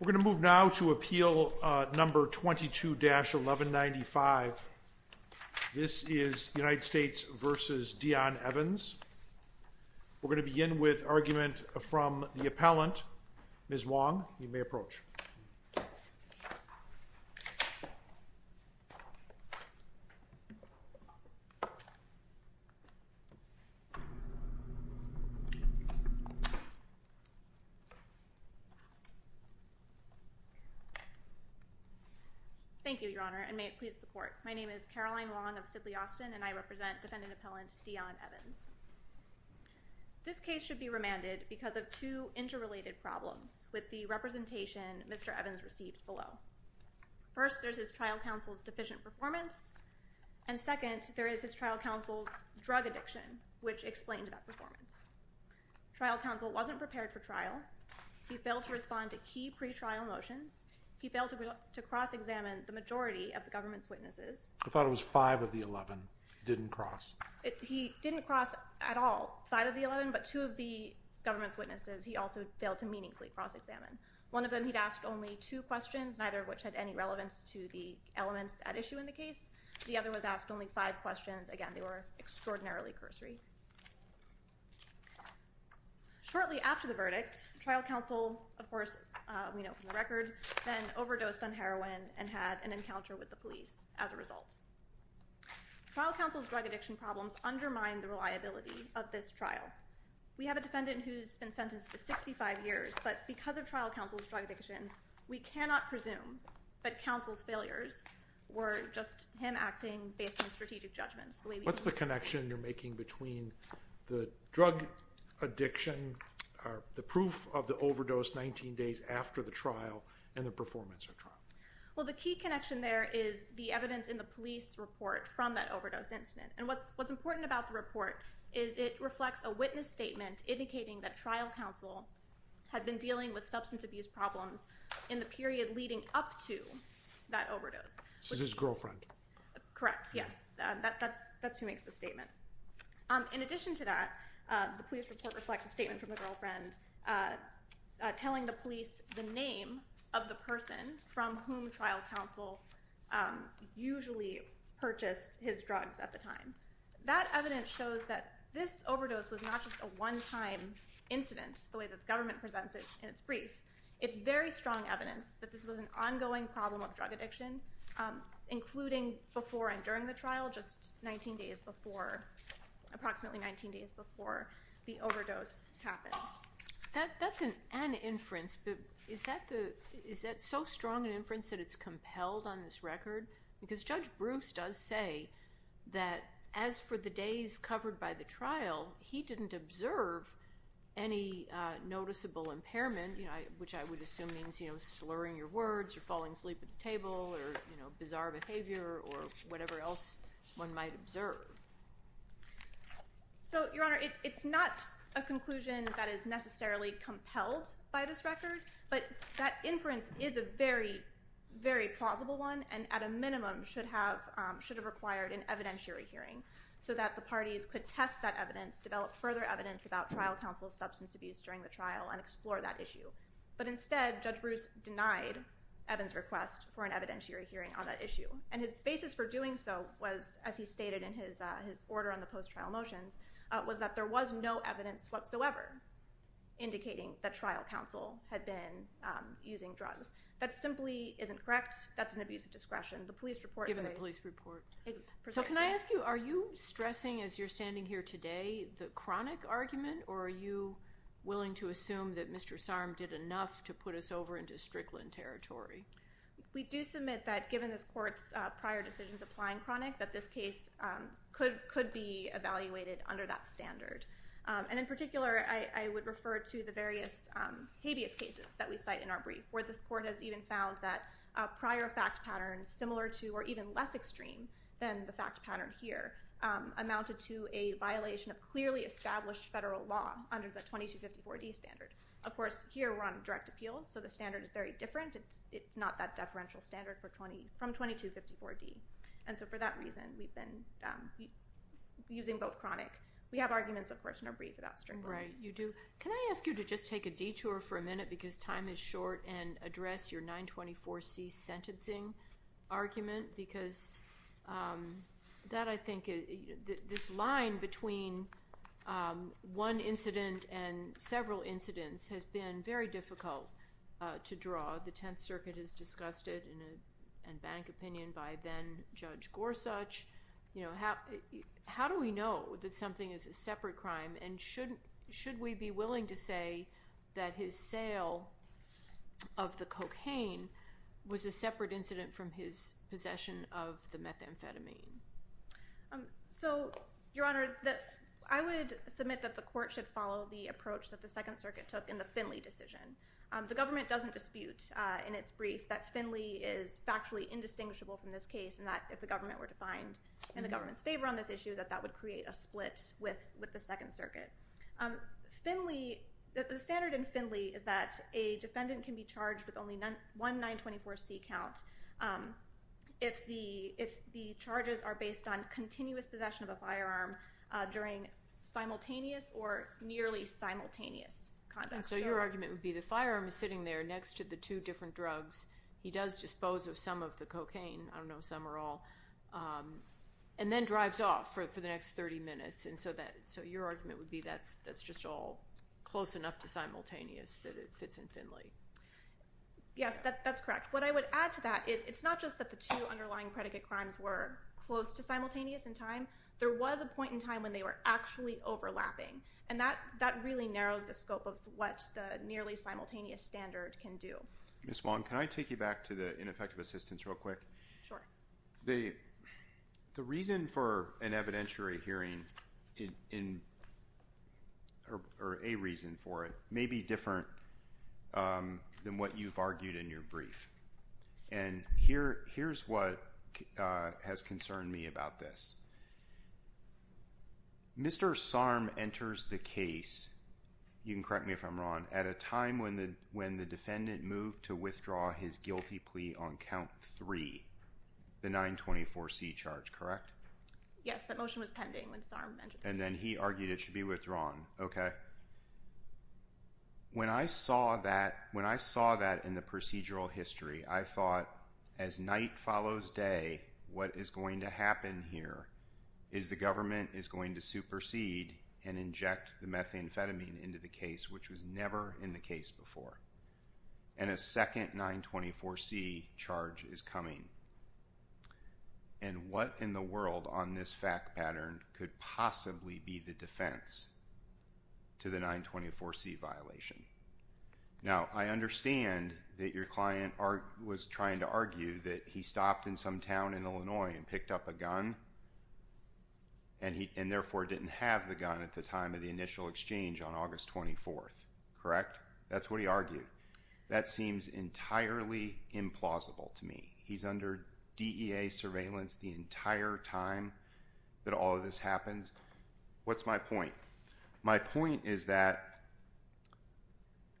We're going to move now to appeal number 22-1195. This is United States v. Deon Evans. We're going to begin with argument from the appellant, Ms. Wong. You may approach. Thank you, Your Honor, and may it please the Court. My name is Caroline Wong of Sidley Austin, and I represent defendant appellant Deon Evans. This case should be remanded because of two interrelated problems with the representation Mr. Evans received below. First, there's his trial counsel's deficient performance, and second, there is his trial counsel's drug addiction, which explains that performance. Trial counsel wasn't prepared for trial. He failed to respond to key pretrial motions. He failed to cross-examine the majority of the government's witnesses. I thought it was five of the 11, didn't cross. He didn't cross at all five of the 11, but two of the government's witnesses he also failed to meaningfully cross-examine. One of them he'd asked only two questions, neither of which had any relevance to the elements at issue in the case. The other was asked only five questions. Again, they were extraordinarily cursory. Shortly after the verdict, trial counsel, of course, we know from the record, then overdosed on heroin and had an encounter with the police as a result. Trial counsel's drug addiction problems undermine the reliability of this trial. We have a defendant who's been sentenced to 65 years, but because of trial counsel's drug addiction, we cannot presume that counsel's failures were just him acting based on strategic judgments. What's the connection you're making between the drug addiction, the proof of the overdose 19 days after the trial, and the performance at trial? Well, the key connection there is the evidence in the police report from that overdose incident. And what's important about the report is it reflects a witness statement indicating that trial counsel had been dealing with substance abuse problems in the period leading up to that overdose. This is his girlfriend. Correct. Yes, that's who makes the statement. In addition to that, the police report reflects a statement from the girlfriend telling the police the name of the person from whom trial counsel usually purchased his drugs at the time. That evidence shows that this overdose was not just a one-time incident the way that the government presents it in its brief. It's very strong evidence that this was an ongoing problem of drug addiction, including before and during the trial, just approximately 19 days before the overdose happened. That's an inference, but is that so strong an inference that it's compelled on this record? Because Judge Bruce does say that as for the days covered by the trial, he didn't observe any noticeable impairment, which I would assume means slurring your words or falling asleep at the table or bizarre behavior or whatever else one might observe. So, Your Honor, it's not a conclusion that is necessarily compelled by this record, but that inference is a very, very plausible one and at a minimum should have required an evidentiary hearing so that the parties could test that evidence, develop further evidence about trial counsel's substance abuse during the trial and explore that issue. But instead, Judge Bruce denied Evans' request for an evidentiary hearing on that issue. And his basis for doing so was, as he stated in his order on the post-trial motions, was that there was no evidence whatsoever indicating that trial counsel had been using drugs. That simply isn't correct. That's an abuse of discretion. Given the police report. So can I ask you, are you stressing as you're standing here today the chronic argument, or are you willing to assume that Mr. Sarm did enough to put us over into Strickland territory? We do submit that given this court's prior decisions applying chronic, that this case could be evaluated under that standard. And in particular, I would refer to the various habeas cases that we cite in our brief, where this court has even found that prior fact patterns similar to or even less extreme than the fact pattern here amounted to a violation of clearly established federal law under the 2254D standard. Of course, here we're on direct appeal, so the standard is very different. It's not that deferential standard from 2254D. And so for that reason, we've been using both chronic. We have arguments, of course, in our brief about Strickland. Right, you do. Can I ask you to just take a detour for a minute, because time is short, and address your 924C sentencing argument? Because that, I think, this line between one incident and several incidents has been very difficult to draw. The Tenth Circuit has discussed it in a bank opinion by then-Judge Gorsuch. How do we know that something is a separate crime, and should we be willing to say that his sale of the cocaine was a separate incident from his possession of the methamphetamine? So, Your Honor, I would submit that the court should follow the approach that the Second Circuit took in the Finley decision. The government doesn't dispute in its brief that Finley is factually indistinguishable from this case, and that if the government were to find in the government's favor on this issue, that that would create a split with the Second Circuit. Finley, the standard in Finley is that a defendant can be charged with only one 924C count if the charges are based on continuous possession of a firearm during simultaneous or nearly simultaneous conduct. And so your argument would be the firearm is sitting there next to the two different drugs. He does dispose of some of the cocaine, I don't know if some are all, and then drives off for the next 30 minutes. And so your argument would be that's just all close enough to simultaneous that it fits in Finley. Yes, that's correct. What I would add to that is it's not just that the two underlying predicate crimes were close to simultaneous in time. There was a point in time when they were actually overlapping. And that really narrows the scope of what the nearly simultaneous standard can do. Ms. Wong, can I take you back to the ineffective assistance real quick? Sure. The reason for an evidentiary hearing or a reason for it may be different than what you've argued in your brief. And here's what has concerned me about this. Mr. Sarm enters the case, you can correct me if I'm wrong, at a time when the defendant moved to withdraw his guilty plea on count three, the 924C charge, correct? Yes, that motion was pending when Sarm entered the case. And then he argued it should be withdrawn. Okay. When I saw that in the procedural history, I thought as night follows day, what is going to happen here is the government is going to supersede and inject the methamphetamine into the case, which was never in the case before. And a second 924C charge is coming. And what in the world on this fact pattern could possibly be the defense to the 924C violation? Now, I understand that your client was trying to argue that he stopped in some town in Illinois and picked up a gun, and therefore didn't have the gun at the time of the initial exchange on August 24th, correct? That's what he argued. That seems entirely implausible to me. He's under DEA surveillance the entire time that all of this happens. What's my point? My point is that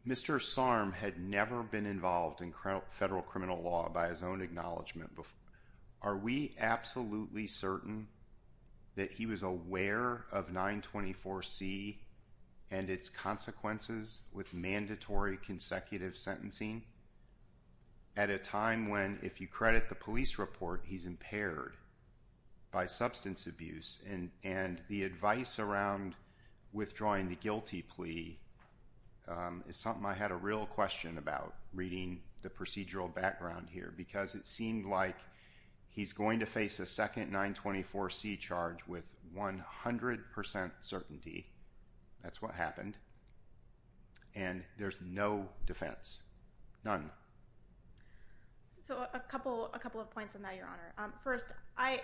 Mr. Sarm had never been involved in federal criminal law by his own acknowledgement before. Are we absolutely certain that he was aware of 924C and its consequences with mandatory consecutive sentencing? At a time when, if you credit the police report, he's impaired by substance abuse, and the advice around withdrawing the guilty plea is something I had a real question about, reading the procedural background here, because it seemed like he's going to face a second 924C charge with 100% certainty. That's what happened. And there's no defense. None. So a couple of points on that, Your Honor. First, I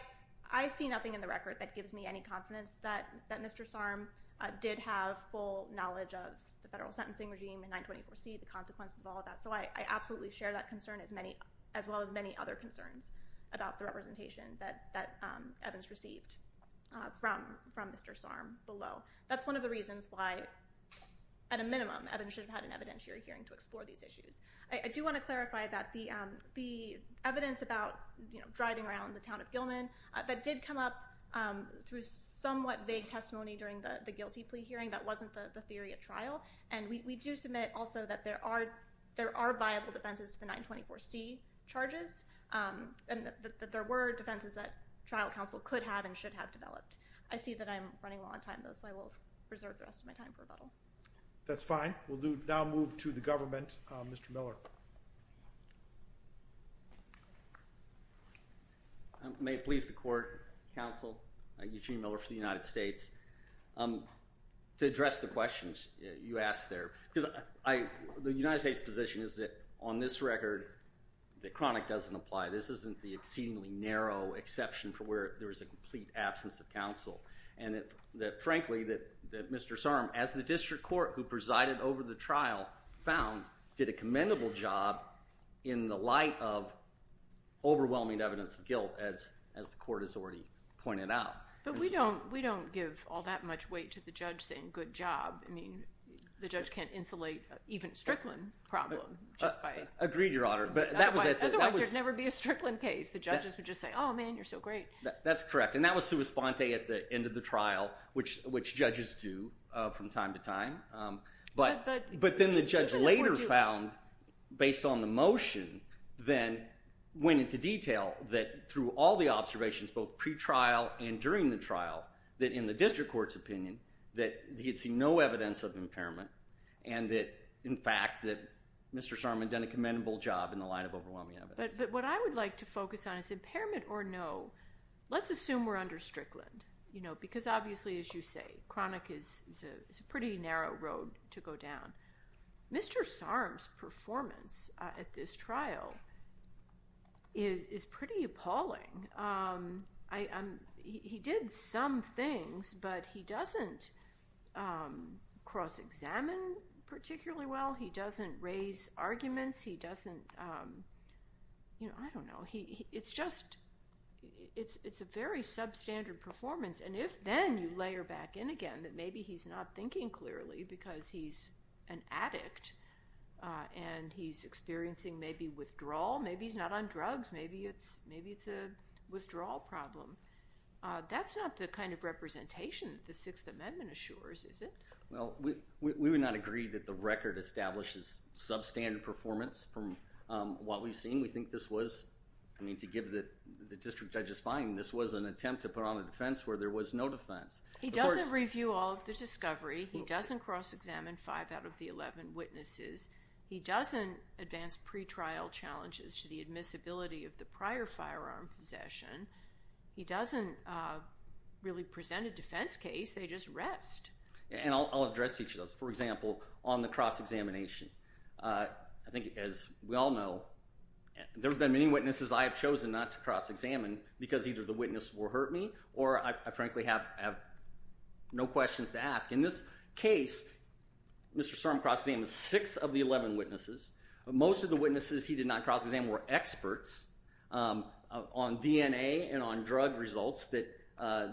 see nothing in the record that gives me any confidence that Mr. Sarm did have full knowledge of the federal sentencing regime and 924C, the consequences of all of that, so I absolutely share that concern as well as many other concerns about the representation that Evans received from Mr. Sarm below. That's one of the reasons why, at a minimum, Evans should have had an evidentiary hearing to explore these issues. I do want to clarify that the evidence about driving around the town of Gilman, that did come up through somewhat vague testimony during the guilty plea hearing. That wasn't the theory at trial. And we do submit also that there are viable defenses to the 924C charges and that there were defenses that trial counsel could have and should have developed. I see that I'm running low on time, though, so I will reserve the rest of my time for rebuttal. That's fine. We'll now move to the government. Mr. Miller. May it please the Court, Counsel Eugene Miller for the United States, to address the questions you asked there. Because the United States' position is that on this record, the chronic doesn't apply. This isn't the exceedingly narrow exception for where there is a complete absence of counsel. And frankly, Mr. Sarm, as the district court who presided over the trial found, did a commendable job in the light of overwhelming evidence of guilt, as the Court has already pointed out. But we don't give all that much weight to the judge saying good job. I mean, the judge can't insulate even Strickland problem just by— Agreed, Your Honor. Otherwise, there would never be a Strickland case. The judges would just say, oh, man, you're so great. That's correct. And that was sua sponte at the end of the trial, which judges do from time to time. But then the judge later found, based on the motion, then went into detail that through all the observations, both pretrial and during the trial, that in the district court's opinion, that he had seen no evidence of impairment and that, in fact, that Mr. Sarm had done a commendable job in the light of overwhelming evidence. But what I would like to focus on is impairment or no. Let's assume we're under Strickland because obviously, as you say, chronic is a pretty narrow road to go down. Mr. Sarm's performance at this trial is pretty appalling. He did some things, but he doesn't cross-examine particularly well. He doesn't raise arguments. He doesn't—you know, I don't know. It's just—it's a very substandard performance. And if then you layer back in again that maybe he's not thinking clearly because he's an addict and he's experiencing maybe withdrawal. Maybe he's not on drugs. Maybe it's a withdrawal problem. That's not the kind of representation that the Sixth Amendment assures, is it? Well, we would not agree that the record establishes substandard performance from what we've seen. We think this was—I mean, to give the district judge's finding, this was an attempt to put on a defense where there was no defense. He doesn't review all of the discovery. He doesn't cross-examine five out of the 11 witnesses. He doesn't advance pretrial challenges to the admissibility of the prior firearm possession. He doesn't really present a defense case. They just rest. And I'll address each of those. For example, on the cross-examination, I think as we all know, there have been many witnesses I have chosen not to cross-examine because either the witness will hurt me or I frankly have no questions to ask. In this case, Mr. Serm cross-examined six of the 11 witnesses. Most of the witnesses he did not cross-examine were experts on DNA and on drug results that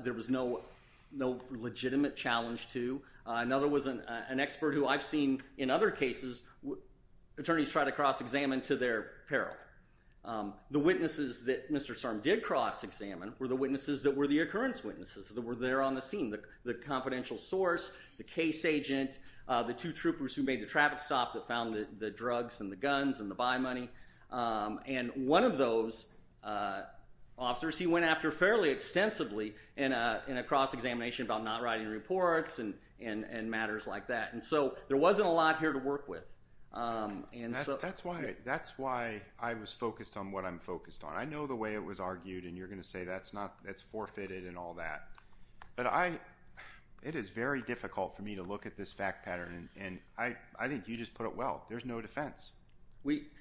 there was no legitimate challenge to. Another was an expert who I've seen in other cases attorneys try to cross-examine to their peril. The witnesses that Mr. Serm did cross-examine were the witnesses that were the occurrence witnesses that were there on the scene, the confidential source, the case agent, the two troopers who made the traffic stop that found the drugs and the guns and the buy money. And one of those officers he went after fairly extensively in a cross-examination about not writing reports and matters like that. And so there wasn't a lot here to work with. That's why I was focused on what I'm focused on. I know the way it was argued, and you're going to say that's forfeited and all that. But it is very difficult for me to look at this fact pattern, and I think you just put it well. There's no defense.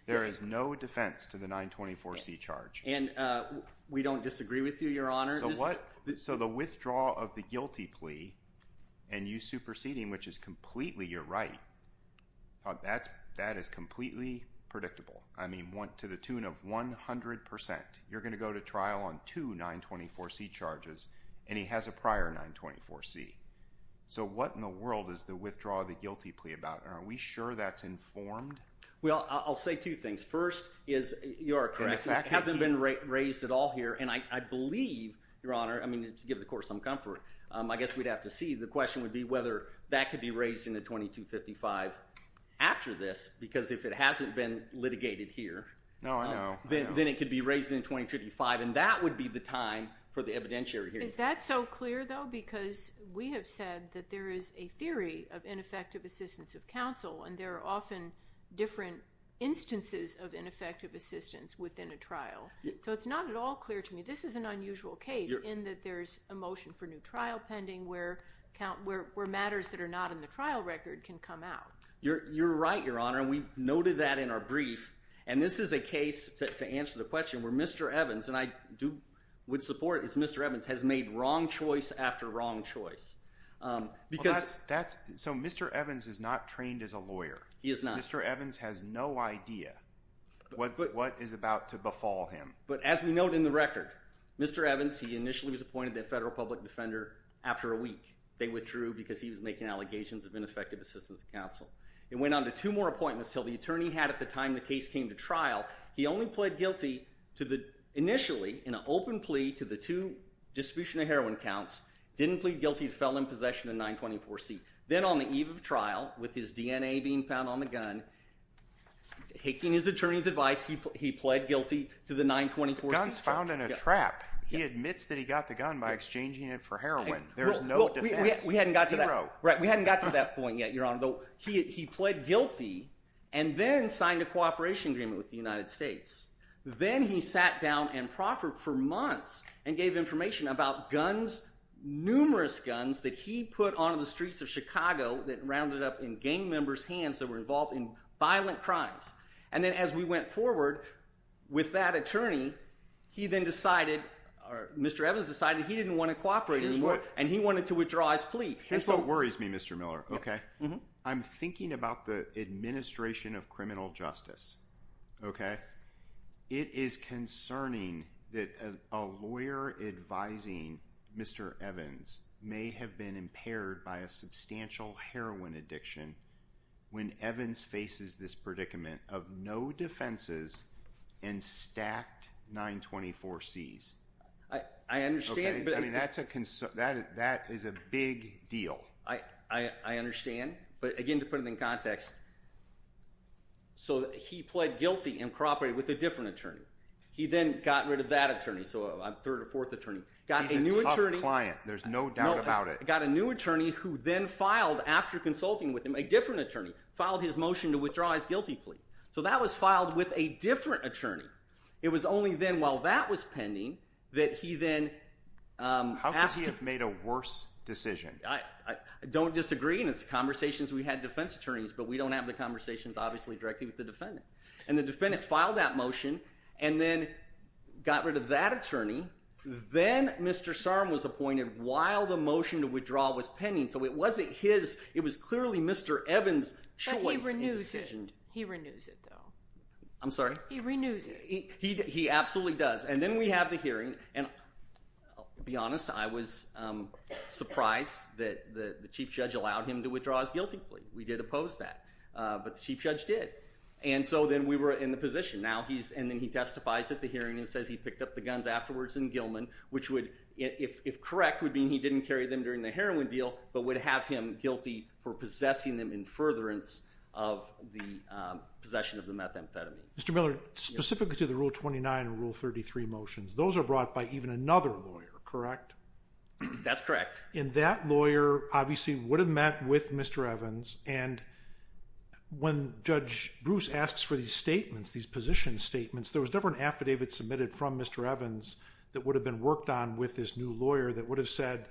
There is no defense to the 924C charge. And we don't disagree with you, Your Honor. So the withdrawal of the guilty plea and you superseding, which is completely your right, that is completely predictable. I mean, to the tune of 100%. You're going to go to trial on two 924C charges, and he has a prior 924C. So what in the world is the withdrawal of the guilty plea about? Are we sure that's informed? Well, I'll say two things. First is you are correct. It hasn't been raised at all here. And I believe, Your Honor, I mean to give the court some comfort, I guess we'd have to see. The question would be whether that could be raised in the 2255 after this because if it hasn't been litigated here… Oh, I know. …then it could be raised in the 2255, and that would be the time for the evidentiary hearing. Is that so clear, though? Because we have said that there is a theory of ineffective assistance of counsel, and there are often different instances of ineffective assistance within a trial. So it's not at all clear to me. This is an unusual case in that there's a motion for new trial pending where matters that are not in the trial record can come out. You're right, Your Honor, and we noted that in our brief. And this is a case, to answer the question, where Mr. Evans, and I would support it, is Mr. Evans has made wrong choice after wrong choice because… So Mr. Evans is not trained as a lawyer. He is not. Mr. Evans has no idea what is about to befall him. But as we note in the record, Mr. Evans, he initially was appointed a federal public defender after a week. It went on to two more appointments until the attorney had at the time the case came to trial. He only pled guilty to the initially in an open plea to the two distribution of heroin counts, didn't plead guilty, fell in possession of 924C. Then on the eve of trial with his DNA being found on the gun, taking his attorney's advice, he pled guilty to the 924C charge. The gun's found in a trap. He admits that he got the gun by exchanging it for heroin. There's no defense. Zero. Right. We haven't gotten to that point yet, Your Honor, though he pled guilty and then signed a cooperation agreement with the United States. Then he sat down and proffered for months and gave information about guns, numerous guns that he put on the streets of Chicago that rounded up in gang members' hands that were involved in violent crimes. And then as we went forward with that attorney, he then decided – or Mr. Evans decided he didn't want to cooperate anymore. He just wouldn't. And he wanted to withdraw his plea. Here's what worries me, Mr. Miller. I'm thinking about the administration of criminal justice. It is concerning that a lawyer advising Mr. Evans may have been impaired by a substantial heroin addiction when Evans faces this predicament of no defenses and stacked 924Cs. I understand. I mean that's a – that is a big deal. I understand. But again, to put it in context, so he pled guilty and cooperated with a different attorney. He then got rid of that attorney. So a third or fourth attorney. He's a tough client. There's no doubt about it. Got a new attorney who then filed, after consulting with him, a different attorney. Filed his motion to withdraw his guilty plea. So that was filed with a different attorney. It was only then, while that was pending, that he then asked to – How could he have made a worse decision? I don't disagree, and it's conversations we had with defense attorneys, but we don't have the conversations, obviously, directly with the defendant. And the defendant filed that motion and then got rid of that attorney. Then Mr. Sarum was appointed while the motion to withdraw was pending. So it wasn't his – it was clearly Mr. Evans' choice in decision. But he renews it. He renews it, though. I'm sorry? He renews it. He absolutely does. And then we have the hearing, and I'll be honest. I was surprised that the chief judge allowed him to withdraw his guilty plea. We did oppose that, but the chief judge did. And so then we were in the position. Now he's – and then he testifies at the hearing and says he picked up the guns afterwards in Gilman, which would, if correct, would mean he didn't carry them during the heroin deal but would have him guilty for possessing them in furtherance of the possession of the methamphetamine. Mr. Miller, specifically to the Rule 29 and Rule 33 motions, those are brought by even another lawyer, correct? That's correct. And that lawyer, obviously, would have met with Mr. Evans. And when Judge Bruce asks for these statements, these position statements, there was never an affidavit submitted from Mr. Evans that would have been worked on with this new lawyer that would have said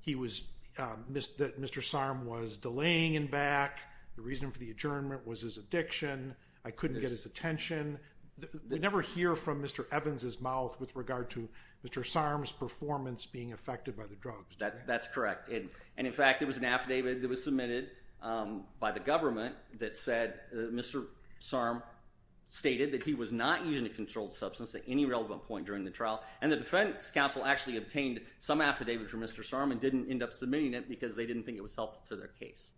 he was – that Mr. Sarum was delaying in back. The reason for the adjournment was his addiction. I couldn't get his attention. We never hear from Mr. Evans' mouth with regard to Mr. Sarum's performance being affected by the drugs. That's correct. And, in fact, there was an affidavit that was submitted by the government that said Mr. Sarum stated that he was not using a controlled substance at any relevant point during the trial. And the defense counsel actually obtained some affidavit from Mr. Sarum and didn't end up submitting it because they didn't think it was helpful to their case.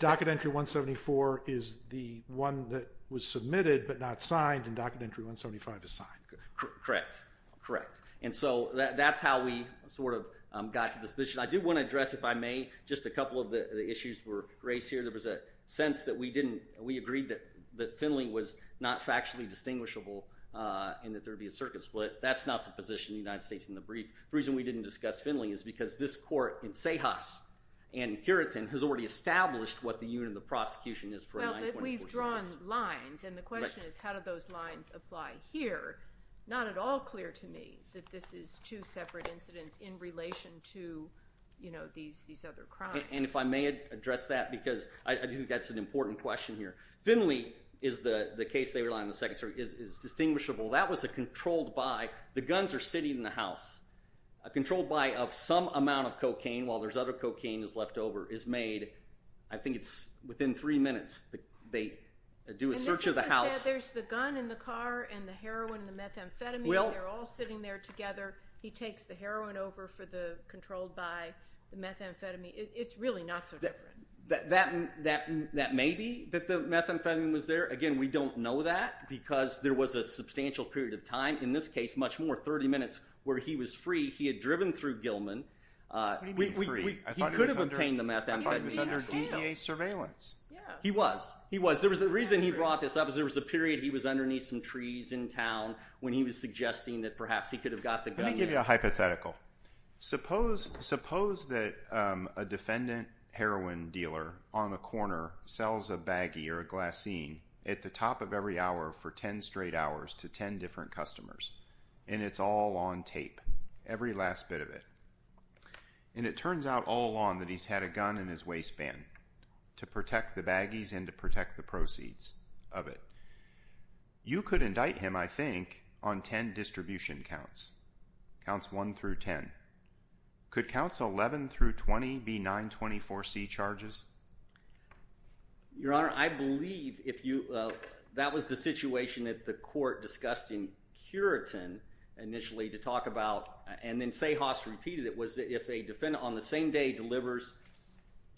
Docket Entry 174 is the one that was submitted but not signed, and Docket Entry 175 is signed. Correct. Correct. And so that's how we sort of got to this position. I do want to address, if I may, just a couple of the issues raised here. There was a sense that we didn't – we agreed that Finley was not factually distinguishable and that there would be a circuit split. That's not the position of the United States in the brief. The reason we didn't discuss Finley is because this court in CEJAS and Curitin has already established what the unit of the prosecution is for a 924 service. Well, we've drawn lines, and the question is how do those lines apply here? Not at all clear to me that this is two separate incidents in relation to these other crimes. And if I may address that because I do think that's an important question here. Finley is the case they rely on in the second circuit is distinguishable. That was a controlled buy. The guns are sitting in the house. A controlled buy of some amount of cocaine, while there's other cocaine that's left over, is made. I think it's within three minutes. They do a search of the house. There's the gun in the car and the heroin and the methamphetamine. They're all sitting there together. He takes the heroin over for the controlled buy, the methamphetamine. It's really not so different. That may be that the methamphetamine was there. Again, we don't know that because there was a substantial period of time, in this case much more, 30 minutes, where he was free. He had driven through Gilman. He could have obtained the methamphetamine. I thought he was under DDA surveillance. He was. He was. The reason he brought this up is there was a period he was underneath some trees in town when he was suggesting that perhaps he could have got the gun there. Let me give you a hypothetical. Suppose that a defendant heroin dealer on a corner sells a baggie or a glassine at the top of every hour for 10 straight hours to 10 different customers, and it's all on tape, every last bit of it. It turns out all along that he's had a gun in his waistband to protect the baggies and to protect the proceeds of it. You could indict him, I think, on 10 distribution counts. Counts 1 through 10. Could counts 11 through 20 be 924C charges? Your Honor, I believe if you—that was the situation that the court discussed in Curitin initially to talk about, and then Sahas repeated it was that if a defendant on the same day delivers,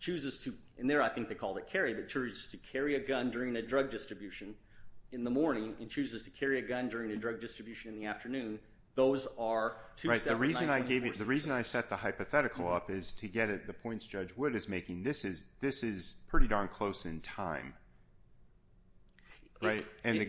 chooses to—and there I think they called it carry, but chooses to carry a gun during a drug distribution in the morning and chooses to carry a gun during a drug distribution in the afternoon, those are 279— Right. The reason I gave you—the reason I set the hypothetical up is to get at the points Judge Wood is making. This is pretty darn close in time, right? And the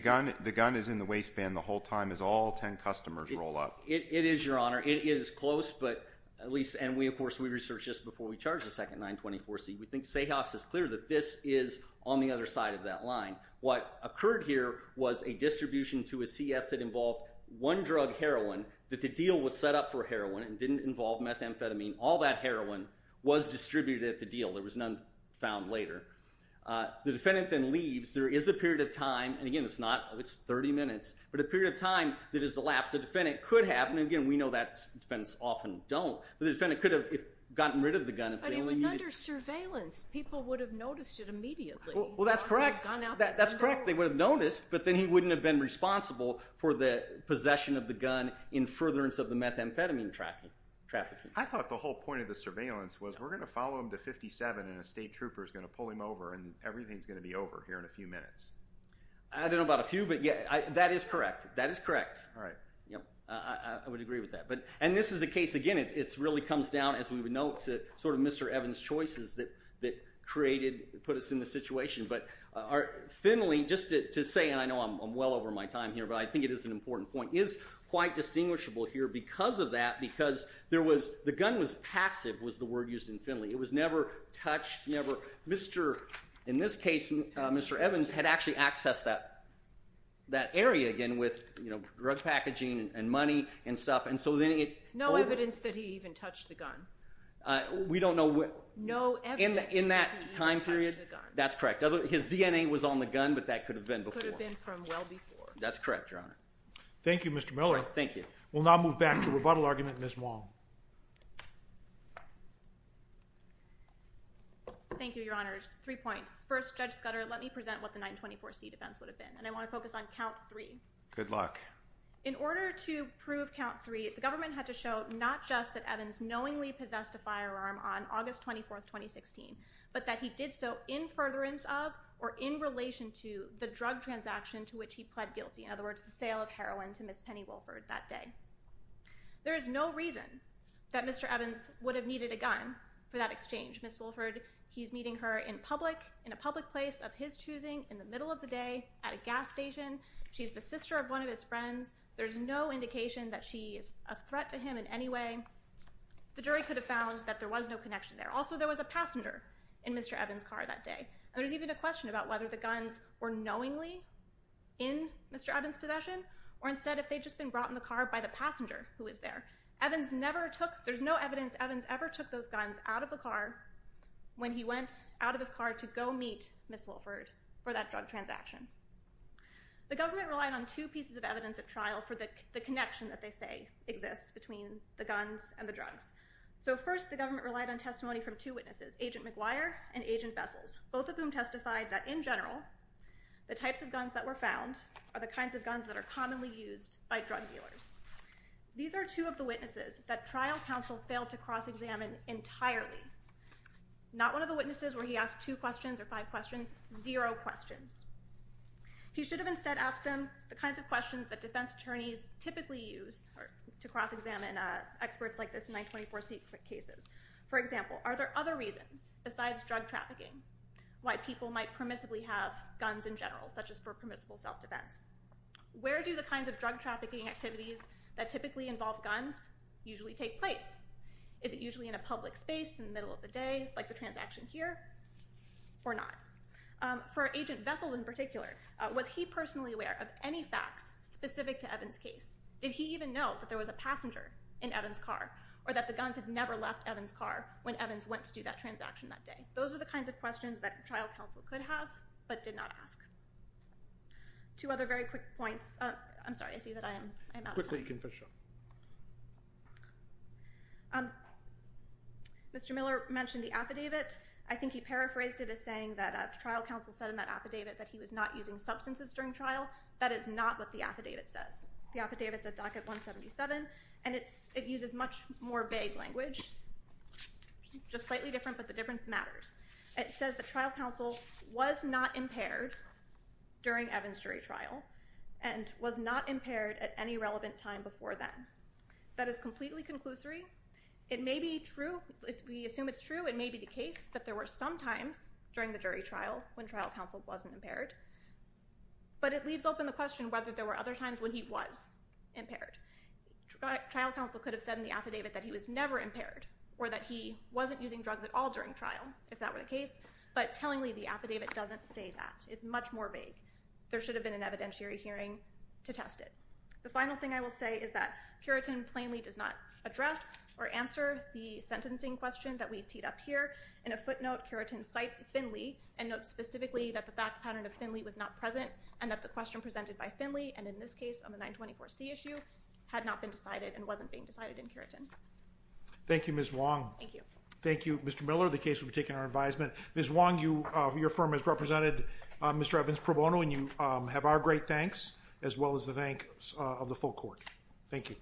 gun is in the waistband the whole time as all 10 customers roll up. It is, Your Honor. It is close, but at least—and we, of course, we researched this before we charged the second 924C. We think Sahas is clear that this is on the other side of that line. What occurred here was a distribution to a CS that involved one drug, heroin, that the deal was set up for heroin and didn't involve methamphetamine. All that heroin was distributed at the deal. There was none found later. The defendant then leaves. There is a period of time—and again, it's not—it's 30 minutes, but a period of time that is elapsed. The defendant could have—and again, we know that defendants often don't, but the defendant could have gotten rid of the gun if they only needed— But it was under surveillance. People would have noticed it immediately. Well, that's correct. That's correct. They would have noticed, but then he wouldn't have been responsible for the possession of the gun in furtherance of the methamphetamine trafficking. I thought the whole point of the surveillance was we're going to follow him to 57 and a state trooper is going to pull him over and everything is going to be over here in a few minutes. I don't know about a few, but that is correct. That is correct. All right. I would agree with that. And this is a case—again, it really comes down, as we would note, to sort of Mr. Evans' choices that created—put us in this situation. But Finley, just to say—and I know I'm well over my time here, but I think it is an important point—is quite distinguishable here because of that because there was—the gun was passive was the word used in Finley. It was never touched, never—Mr.—in this case, Mr. Evans had actually accessed that area again with drug packaging and money and stuff. And so then it— No evidence that he even touched the gun. We don't know what— No evidence that he even touched the gun. In that time period? That's correct. His DNA was on the gun, but that could have been before. Could have been from well before. That's correct, Your Honor. Thank you, Mr. Miller. Thank you. We'll now move back to rebuttal argument, Ms. Wong. Thank you, Your Honors. Three points. First, Judge Scudder, let me present what the 924c defense would have been. And I want to focus on count three. Good luck. In order to prove count three, the government had to show not just that Evans knowingly possessed a firearm on August 24, 2016, but that he did so in furtherance of or in relation to the drug transaction to which he pled guilty. In other words, the sale of heroin to Ms. Penny Wilford that day. There is no reason that Mr. Evans would have needed a gun for that exchange. Ms. Wilford, he's meeting her in public, in a public place of his choosing, in the middle of the day, at a gas station. She's the sister of one of his friends. There's no indication that she is a threat to him in any way. The jury could have found that there was no connection there. Also, there was a passenger in Mr. Evans' car that day. And there's even a question about whether the guns were knowingly in Mr. Evans' possession or instead if they'd just been brought in the car by the passenger who was there. Evans never took, there's no evidence Evans ever took those guns out of the car when he went out of his car to go meet Ms. Wilford for that drug transaction. The government relied on two pieces of evidence at trial for the connection that they say exists between the guns and the drugs. So first, the government relied on testimony from two witnesses, Agent McGuire and Agent Vessels, both of whom testified that, in general, the types of guns that were found are the kinds of guns that are commonly used by drug dealers. These are two of the witnesses that trial counsel failed to cross-examine entirely. Not one of the witnesses where he asked two questions or five questions, zero questions. He should have instead asked them the kinds of questions that defense attorneys typically use to cross-examine experts like this in 924c cases. For example, are there other reasons besides drug trafficking why people might permissibly have guns in general, such as for permissible self-defense? Where do the kinds of drug trafficking activities that typically involve guns usually take place? Is it usually in a public space in the middle of the day, like the transaction here, or not? For Agent Vessels in particular, was he personally aware of any facts specific to Evans' case? Did he even know that there was a passenger in Evans' car or that the guns had never left Evans' car when Evans went to do that transaction that day? Those are the kinds of questions that trial counsel could have but did not ask. Two other very quick points. I'm sorry, I see that I am out of time. Quickly, Confiscio. Mr. Miller mentioned the affidavit. I think he paraphrased it as saying that trial counsel said in that affidavit that he was not using substances during trial. That is not what the affidavit says. The affidavit is at docket 177 and it uses much more vague language, just slightly different, but the difference matters. It says that trial counsel was not impaired during Evans' jury trial and was not impaired at any relevant time before then. That is completely conclusory. It may be true, we assume it's true, it may be the case that there were some times during the jury trial when trial counsel wasn't impaired. But it leaves open the question whether there were other times when he was impaired. Trial counsel could have said in the affidavit that he was never impaired or that he wasn't using drugs at all during trial, if that were the case, but tellingly the affidavit doesn't say that. It's much more vague. There should have been an evidentiary hearing to test it. The final thing I will say is that Curitin plainly does not address or answer the sentencing question that we teed up here. In a footnote, Curitin cites Finley and notes specifically that the fact pattern of Finley was not present and that the question presented by Finley and in this case on the 924C issue had not been decided and wasn't being decided in Curitin. Thank you, Ms. Wong. Thank you. Thank you, Mr. Miller. The case will be taken under advisement. Ms. Wong, your firm has represented Mr. Evans Pro Bono and you have our great thanks as well as the thanks of the full court. Thank you.